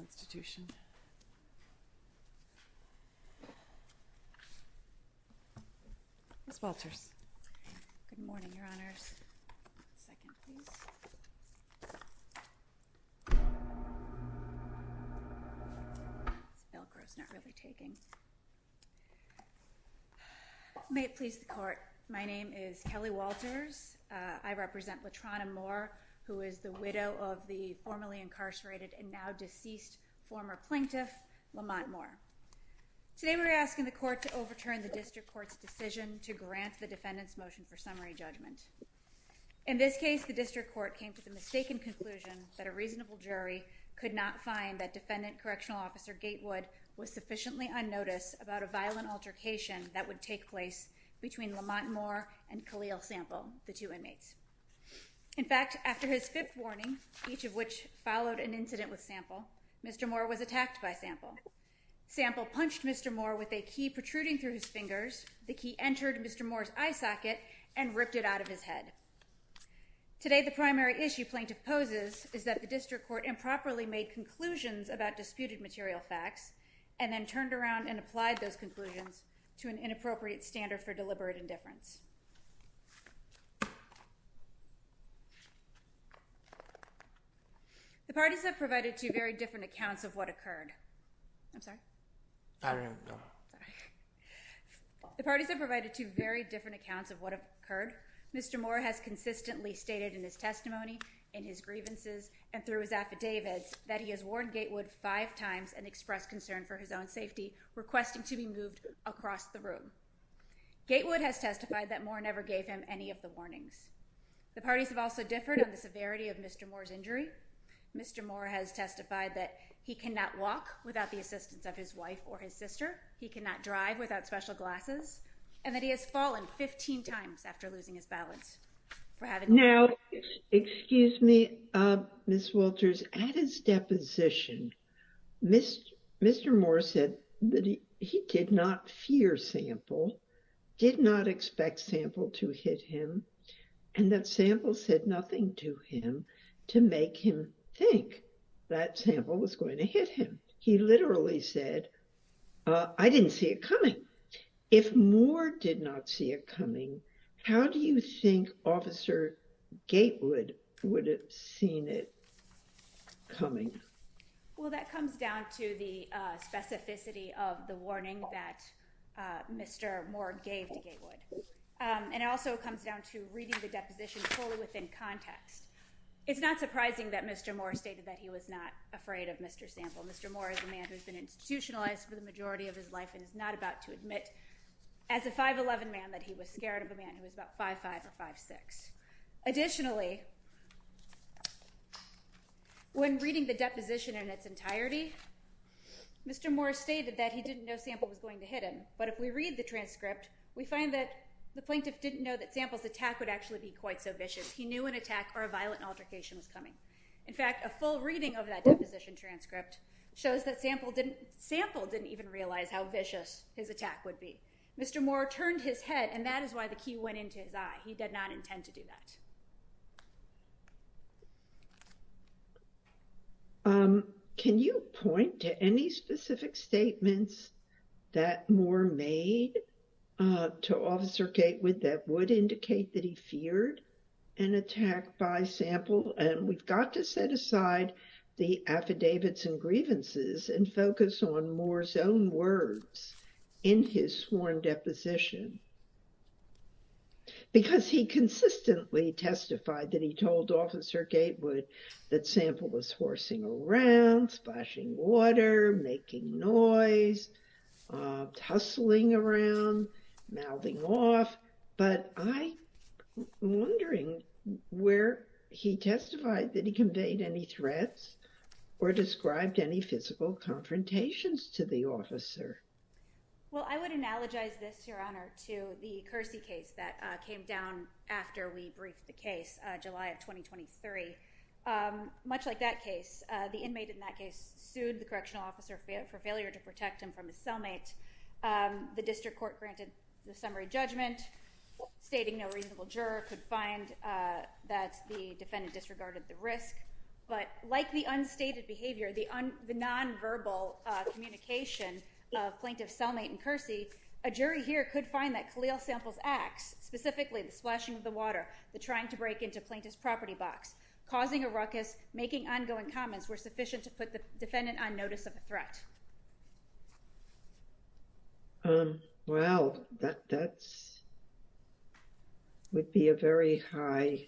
Institution. Ms. Walters. Good morning, Your Honors. Second, please. This Velcro is not really taking. May it please the Court. My name is Kelly Walters. I represent Latrona Moore, who is the widow of the late former plaintiff and now deceased former plaintiff, Lamont Moore. Today we are asking the Court to overturn the District Court's decision to grant the defendant's motion for summary judgment. In this case, the District Court came to the mistaken conclusion that a reasonable jury could not find that Defendant Correctional Officer Gatewood was sufficiently unnoticed about a violent altercation that would take place between Lamont Moore and Khalil Sample, the two inmates. In fact, after his fifth warning, each of which followed an incident with Sample, Mr. Moore was attacked by Sample. Sample punched Mr. Moore with a key protruding through his fingers. The key entered Mr. Moore's eye socket and ripped it out of his head. Today the primary issue plaintiff poses is that the District Court improperly made conclusions about disputed material facts and then turned around and applied those conclusions to an The parties have provided two very different accounts of what occurred. I'm sorry? I don't know. Sorry. The parties have provided two very different accounts of what occurred. Mr. Moore has consistently stated in his testimony, in his grievances, and through his affidavits that he has warned Gatewood five times and expressed concern for his own safety, requesting to be moved across the room. Gatewood has testified that Moore never gave him any of the warnings. The parties have also differed on the severity of Mr. Moore's injury. Mr. Moore has testified that he cannot walk without the assistance of his wife or his sister, he cannot drive without special glasses, and that he has fallen 15 times after losing his balance. Now, excuse me, Ms. Wolters, at his deposition, Mr. Moore said that he did not fear Sample. He did not expect Sample to hit him, and that Sample said nothing to him to make him think that Sample was going to hit him. He literally said, I didn't see it coming. If Moore did not see it coming, how do you think Officer Gatewood would have seen it coming? Well, that comes down to the specificity of the warning that Mr. Moore gave to Gatewood. And it also comes down to reading the deposition fully within context. It's not surprising that Mr. Moore stated that he was not afraid of Mr. Sample. Mr. Moore is a man who has been institutionalized for the majority of his life and is not about to admit, as a 5'11 man, that he was scared of a man who was about 5'5 or 5'6. Additionally, when reading the deposition in its entirety, Mr. Moore stated that he didn't know Sample was going to hit him. But if we read the transcript, we find that the plaintiff didn't know that Sample's attack would actually be quite so vicious. He knew an attack or a violent altercation was coming. In fact, a full reading of that deposition transcript shows that Sample didn't even realize how vicious his attack would be. Mr. Moore turned his head, and that is why the key went into his eye. He did not intend to do that. Can you point to any specific statements that Moore made to Officer Gatewood that would indicate that he feared an attack by Sample? And we've got to set aside the affidavits and grievances and focus on Moore's own words in his sworn deposition. Because he consistently testified that he told Officer Gatewood that Sample was horsing around, splashing water, making noise, hustling around, mouthing off. But I'm wondering where he testified. Did he convey any threats or described any physical confrontations to the officer? Well, I would analogize this, Your Honor, to the Kersey case that came down after we briefed the case, July of 2023. Much like that case, the inmate in that case sued the correctional officer for failure to protect him from his cellmate. The district court granted the summary judgment, stating no reasonable juror could find that the defendant disregarded the risk. But like the unstated behavior, the nonverbal communication of plaintiffs Selmate and Kersey, a jury here could find that Khalil Sample's acts, specifically the splashing of the water, the trying to break into plaintiff's property box, causing a ruckus, making ongoing comments, were sufficient to put the defendant on notice of a threat. Well, that would be a very high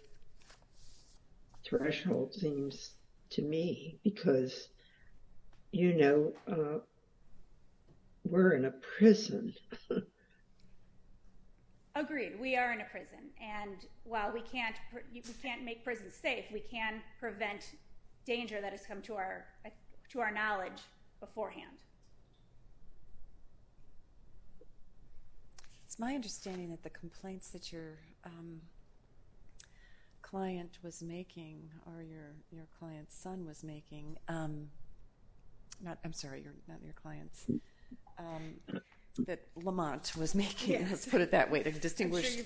threshold, it seems to me, because, you know, we're in a prison. Agreed. We are in a prison. And while we can't make prisons safe, we can prevent danger that has come to our knowledge before us. It's my understanding that the complaints that your client was making, or your client's son was making, I'm sorry, not your client's, that Lamont was making, let's put it that way to distinguish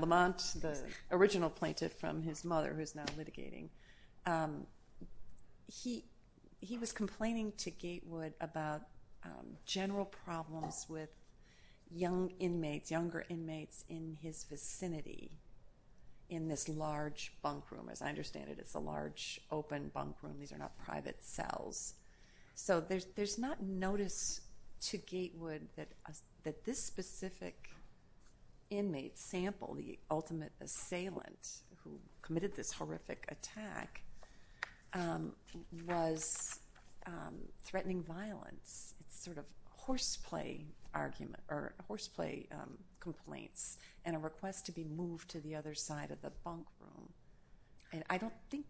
Lamont, the original plaintiff from his mother who's now litigating, he was complaining to Gatewood about general problems with young inmates, younger inmates in his vicinity in this large bunk room. As I understand it, it's a large open bunk room. These are not private cells. So there's not notice to Gatewood that this specific inmate, Sample, the ultimate assailant who committed this horrific attack, was threatening violence. It's sort of horseplay arguments or horseplay complaints and a request to be moved to the other side of the bunk room. And I don't think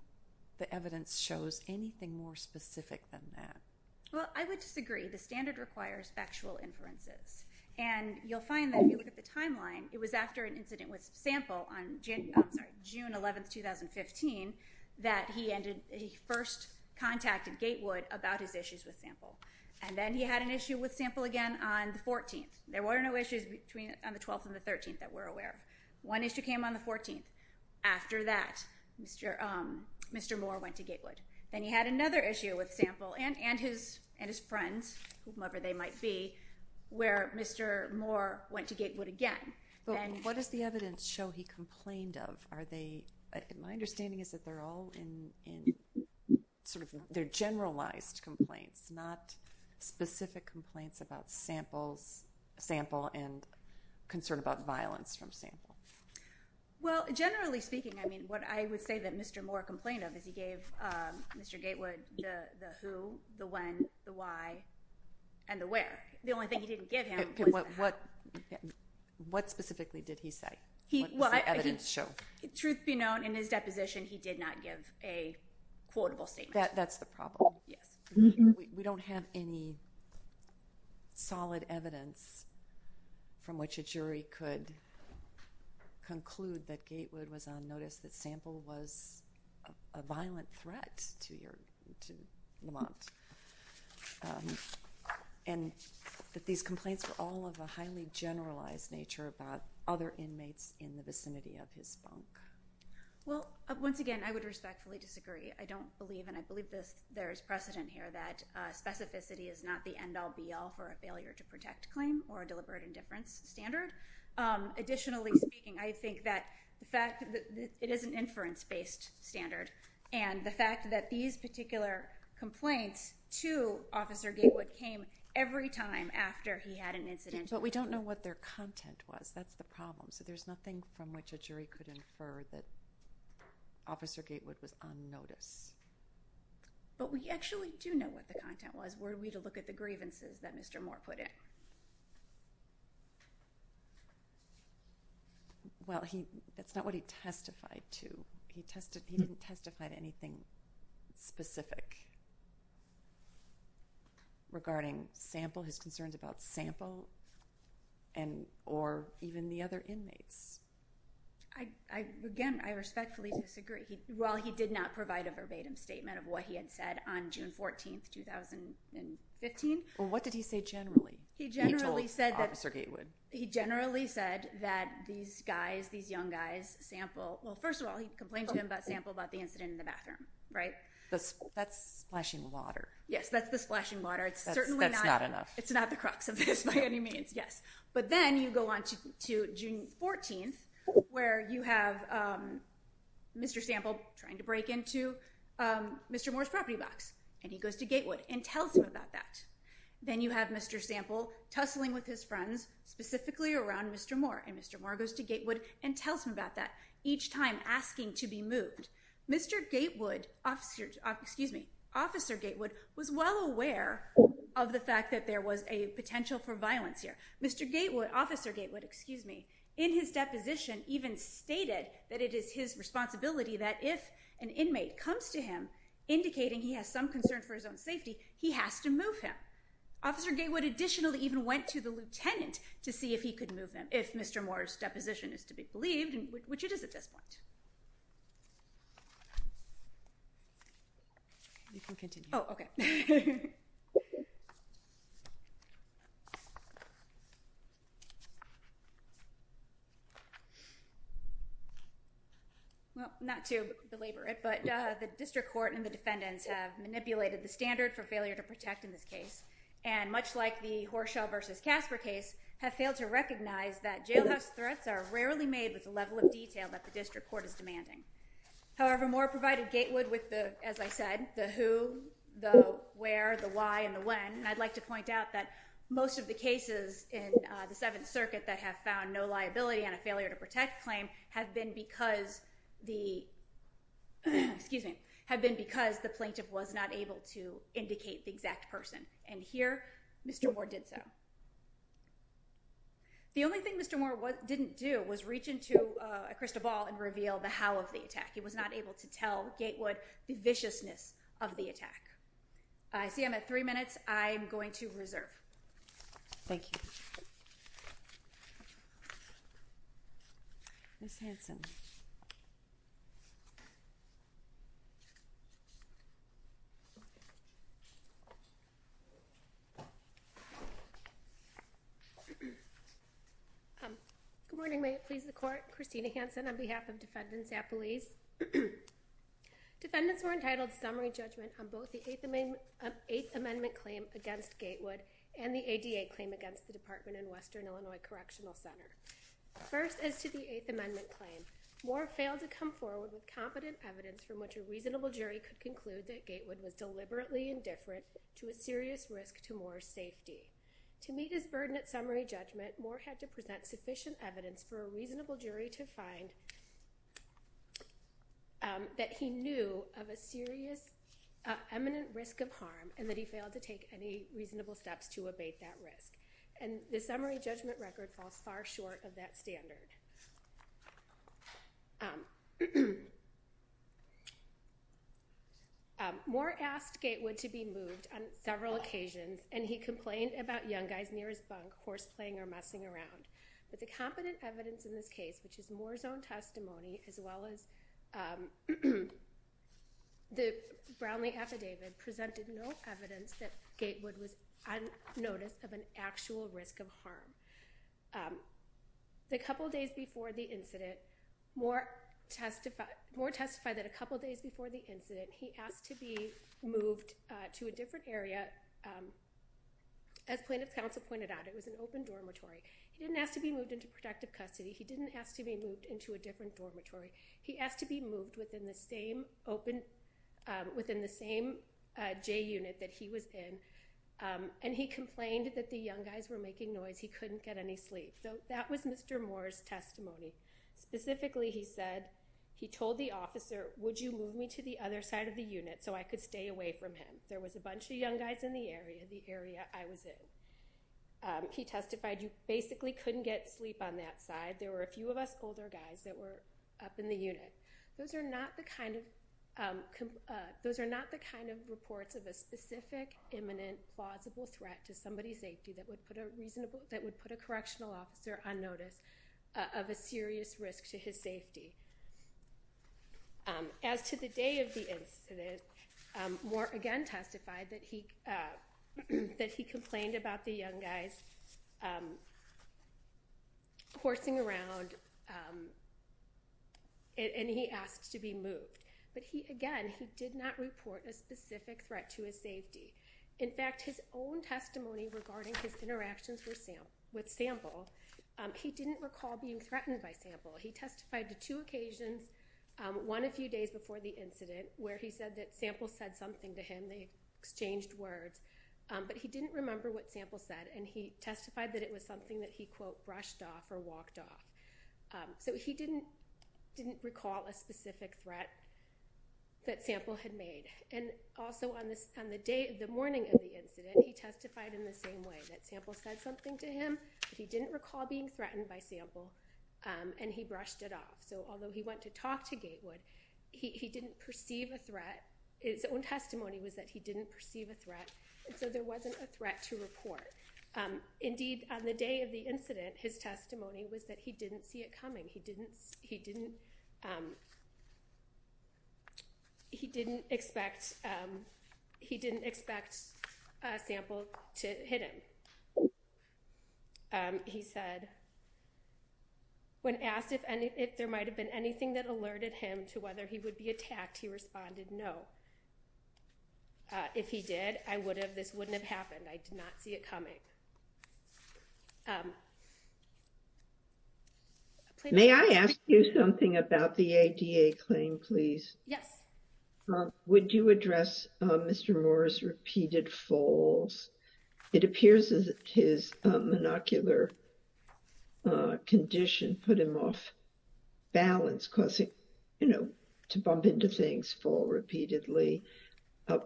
the evidence shows anything more specific than that. Well, I would disagree. The standard requires factual inferences. And you'll find that if you look at the timeline, it was after an incident with Sample on January, I'm sorry, June 11, 2015, that he first contacted Gatewood about his issues with Sample. And then he had an issue with Sample again on the 14th. There were no issues between the 12th and the 13th that we're aware of. One issue came on the 14th. After that, Mr. Moore went to Gatewood. Then he had another issue with Sample and his friends, whomever they might be, where Mr. Moore went to Gatewood again. What does the evidence show he complained of? Are they, my understanding is that they're all in, sort of, they're generalized complaints, not specific complaints about Sample and concern about violence from Sample. Well, generally speaking, I mean, what I would say that Mr. Moore complained of is he gave Mr. Gatewood the who, the when, the why, and the where. What specifically did he say? What does the evidence show? Truth be known, in his deposition, he did not give a quotable statement. That's the problem. We don't have any solid evidence from which a jury could conclude that Gatewood was on notice that Sample was a violent threat to Lamont. And that these complaints were all of a highly generalized nature about other inmates in the vicinity of his bunk. Well, once again, I would respectfully disagree. I don't believe, and I believe there is precedent here, that specificity is not the end-all be-all for a failure to protect claim or a deliberate indifference standard. Additionally speaking, I think that the fact that it is an inference-based standard, and the fact that these particular complaints to Officer Gatewood came every time after he had an incident. But we don't know what their content was. That's the problem. So there's nothing from which a jury could infer that Officer Gatewood was on notice. But we actually do know what the content was. Were we to look at the grievances that Mr. Moore put in? Well, that's not what he testified to. He didn't testify to anything specific regarding Sample, his concerns about Sample, or even the other inmates. Again, I respectfully disagree. While he did not provide a verbatim statement of what he had said on June 14, 2015. Well, what did he say generally? He generally said that these guys, these young guys, Sample, well, first of all, he complained to him about Sample about the incident in the bathroom, right? That's splashing water. Yes, that's the splashing water. It's certainly not enough. It's not the crux of this by any means, yes. But then you go on to June 14, where you have Mr. Sample trying to break into Mr. Moore's property box. And he goes to Gatewood and tells him about that. Then you have Mr. Sample tussling with his friends, specifically around Mr. Moore. And Mr. Moore goes to Gatewood and tells him about that. Each time asking to be moved. Mr. Gatewood, officer, excuse me, Officer Gatewood was well aware of the fact that there was a potential for violence here. Mr. Gatewood, Officer Gatewood, excuse me, in his deposition even stated that it is his responsibility that if an inmate comes to him indicating he has some concern for his own safety, he has to move him. Officer Gatewood additionally even went to the lieutenant to see if he could move them. If Mr. Moore's deposition is to be believed, which it is at this point. You can continue. Oh, OK. Well, not to belabor it, but the district court and the defendants have manipulated the standard for failure to protect in this case. And much like the Horshall versus Casper case, have failed to recognize that jailhouse threats are rarely made with the level of detail that the district court is demanding. However, Moore provided Gatewood with the, as I said, the who, the where, the why, and the when. And I'd like to point out that most of the cases in the Seventh Circuit that have found no liability and a failure to protect claim have been because the plaintiff was not able to indicate the exact person. And here Mr. Moore did so. The only thing Mr. Moore didn't do was reach into a crystal ball and reveal the how of the attack. He was not able to tell Gatewood the viciousness of the attack. I see I'm at three minutes. I'm going to reserve. Thank you. Ms. Hanson. Good morning. May it please the court. Christina Hanson on behalf of defendants at police. Defendants were entitled summary judgment on both the eighth amendment, eighth amendment correctional center. First, as to the eighth amendment claim, Moore failed to come forward with competent evidence from which a reasonable jury could conclude that Gatewood was deliberately indifferent to a serious risk to Moore's safety. To meet his burden at summary judgment, Moore had to present sufficient evidence for a reasonable jury to find that he knew of a serious eminent risk of harm and that he failed to take any reasonable steps to abate that risk. And the summary judgment record falls far short of that standard. Moore asked Gatewood to be moved on several occasions, and he complained about young guys near his bunk horse playing or messing around. But the competent evidence in this case, which is Moore's own testimony, as well as the Brownlee affidavit, presented no evidence that Gatewood was on notice of an actual risk of harm. The couple of days before the incident, Moore testified that a couple of days before the incident, he asked to be moved to a different area. As plaintiff's counsel pointed out, it was an open dormitory. He didn't ask to be moved into protective custody. He didn't ask to be moved into a different dormitory. He asked to be moved within the same J unit that he was in, and he complained that the young guys were making noise. He couldn't get any sleep. So that was Mr. Moore's testimony. Specifically, he said, he told the officer, would you move me to the other side of the unit so I could stay away from him? There was a bunch of young guys in the area, the area I was in. He testified you basically couldn't get sleep on that side. There were a few of us older guys that were up in the unit. Those are not the kind of reports of a specific, imminent, plausible threat to somebody's safety that would put a correctional officer on notice of a serious risk to his safety. As to the day of the incident, Moore again testified that he complained about the young guys coursing around, and he asked to be moved. But again, he did not report a specific threat to his safety. In fact, his own testimony regarding his interactions with Sample, he didn't recall being threatened by Sample. He testified to two occasions, one a few days before the incident, where he said that Sample said something to him. They exchanged words. But he didn't remember what Sample said. And he testified that it was something that he, quote, brushed off or walked off. So he didn't recall a specific threat that Sample had made. And also on the morning of the incident, he testified in the same way, that Sample said something to him, but he didn't recall being threatened by Sample, and he brushed it off. So although he went to talk to Gatewood, he didn't perceive a threat. His own testimony was that he didn't perceive a threat. And so there wasn't a threat to report. Indeed, on the day of the incident, his testimony was that he didn't see it coming. He didn't expect Sample to hit him. He said, when asked if there might have been anything that alerted him to whether he would be attacked, he responded, no. If he did, this wouldn't have happened. I did not see it coming. May I ask you something about the ADA claim, please? Yes. Would you address Mr. Moore's repeated falls? It appears that his monocular condition put him off balance, causing him to bump into things, fall repeatedly.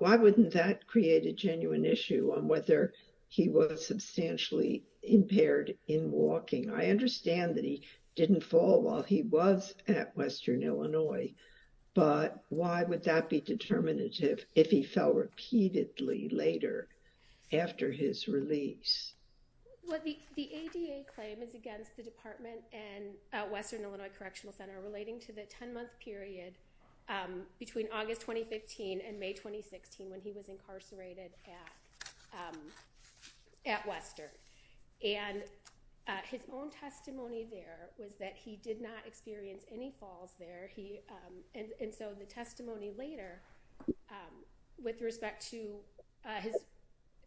Why wouldn't that create a genuine issue on whether he was substantially impaired in walking? I understand that he didn't fall while he was at Western Illinois, but why would that be determinative if he fell repeatedly later? After his release? Well, the ADA claim is against the Department and Western Illinois Correctional Center relating to the 10-month period between August 2015 and May 2016 when he was incarcerated at Western. And his own testimony there was that he did not experience any falls there. And so the testimony later with respect to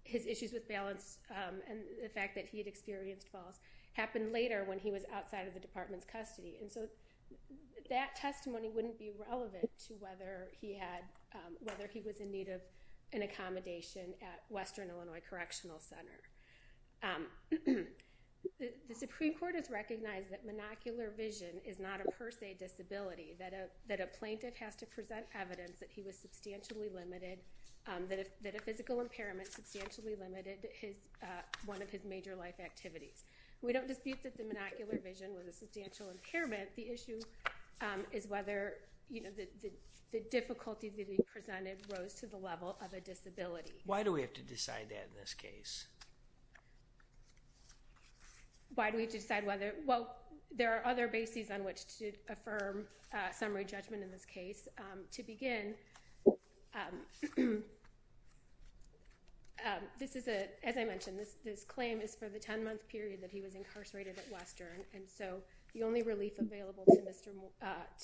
his issues with balance and the fact that he had experienced falls happened later when he was outside of the Department's custody. And so that testimony wouldn't be relevant to whether he was in need of an accommodation or not. The Supreme Court has recognized that monocular vision is not a per se disability, that a plaintiff has to present evidence that he was substantially limited, that a physical impairment substantially limited one of his major life activities. We don't dispute that the monocular vision was a substantial impairment. The issue is whether the difficulty that he presented rose to the level of a disability. Why do we have to decide that in this case? Why do we have to decide whether, well, there are other bases on which to affirm summary judgment in this case. To begin, this is a, as I mentioned, this claim is for the 10-month period that he was incarcerated at Western. And so the only relief available to Mr.,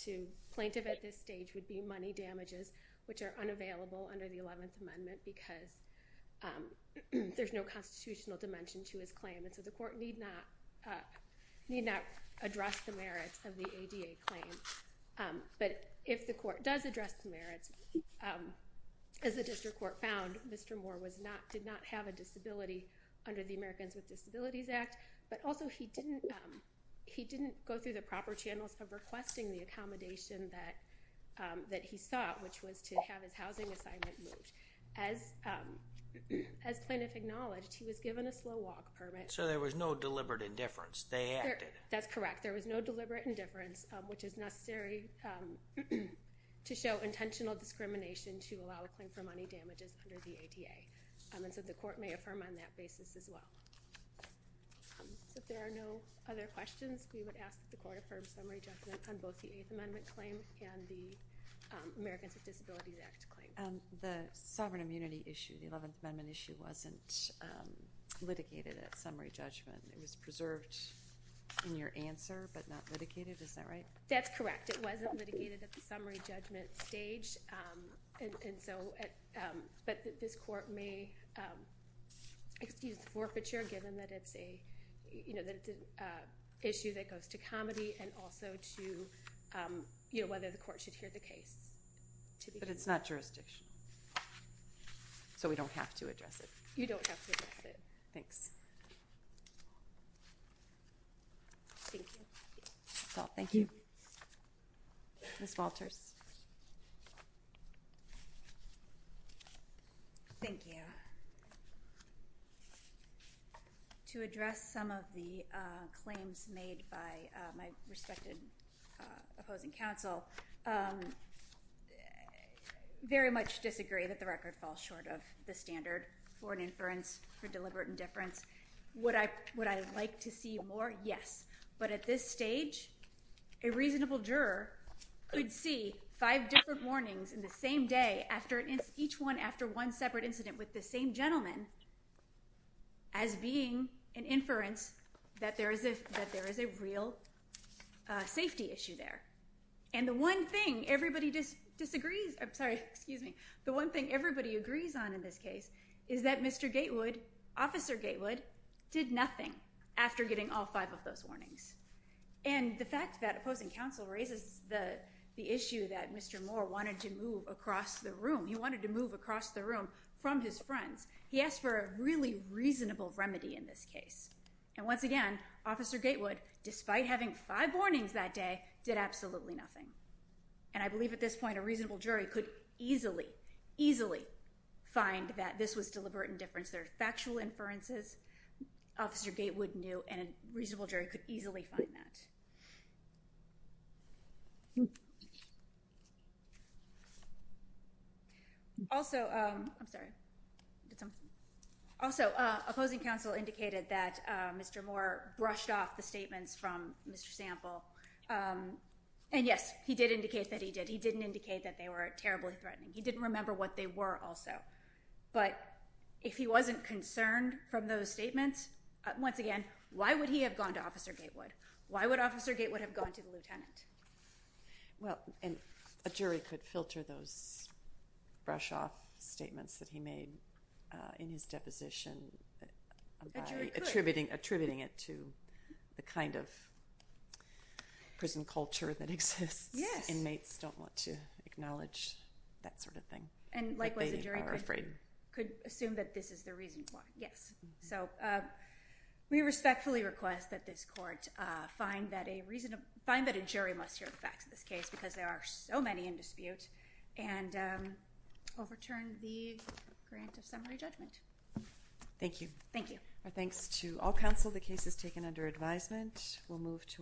to plaintiff at this stage would be money damages which are unavailable under the 11th Amendment because there's no constitutional dimension to his claim. And so the court need not, need not address the merits of the ADA claim. But if the court does address the merits, as the district court found, Mr. Moore was not, did not have a disability under the Americans with Disabilities Act. But also he didn't, he didn't go through the proper channels of requesting the accommodation that, that he sought which was to have his housing assignment moved. As plaintiff acknowledged, he was given a slow walk permit. So there was no deliberate indifference. They acted. That's correct. There was no deliberate indifference which is necessary to show intentional discrimination to allow a claim for money damages under the ADA. And so the court may affirm on that basis as well. So if there are no other questions, we would ask that the court affirm summary judgment on both the 8th Amendment claim and the Americans with Disabilities Act claim. The sovereign immunity issue, the 11th Amendment issue wasn't litigated at summary judgment. It was preserved in your answer but not litigated. Is that right? That's correct. It wasn't litigated at the summary judgment stage. And so, but this court may excuse the forfeiture given that it's a, you know, that it's an and also to, you know, whether the court should hear the case. But it's not jurisdictional. So we don't have to address it. You don't have to address it. Thanks. Thank you. That's all. Thank you. Ms. Walters. Thank you. To address some of the claims made by my respected opposing counsel, very much disagree that the record falls short of the standard for an inference for deliberate indifference. Would I like to see more? Yes. But at this stage, a reasonable juror could see five different warnings in the same day each one after one separate incident with the same gentleman as being an inference that there is a real safety issue there. And the one thing everybody disagrees, I'm sorry, excuse me. The one thing everybody agrees on in this case is that Mr. Gatewood, Officer Gatewood did nothing after getting all five of those warnings. And the fact that opposing counsel raises the issue that Mr. Moore wanted to move across the room. He wanted to move across the room from his friends. He asked for a really reasonable remedy in this case. And once again, Officer Gatewood, despite having five warnings that day, did absolutely nothing. And I believe at this point, a reasonable jury could easily, easily find that this was deliberate indifference. There are factual inferences. Officer Gatewood knew and a reasonable jury could easily find that. Also, I'm sorry. Also, opposing counsel indicated that Mr. Moore brushed off the statements from Mr. Sample. And yes, he did indicate that he did. He didn't indicate that they were terribly threatening. He didn't remember what they were also. But if he wasn't concerned from those statements, once again, why would he have gone to Officer Gatewood? Why would Officer Gatewood have gone to the lieutenant? Well, and a jury could filter those brush off statements that he made in his deposition, attributing it to the kind of prison culture that exists. Yes. Inmates don't want to acknowledge that sort of thing. And likewise, a jury could assume that this is the reason why. Yes. So we respectfully request that this court find that a reasonable, find that a jury must hear the facts of this case because there are so many in dispute and overturn the grant of summary judgment. Thank you. Thank you. Our thanks to all counsel. The case is taken under advisement. We'll move to a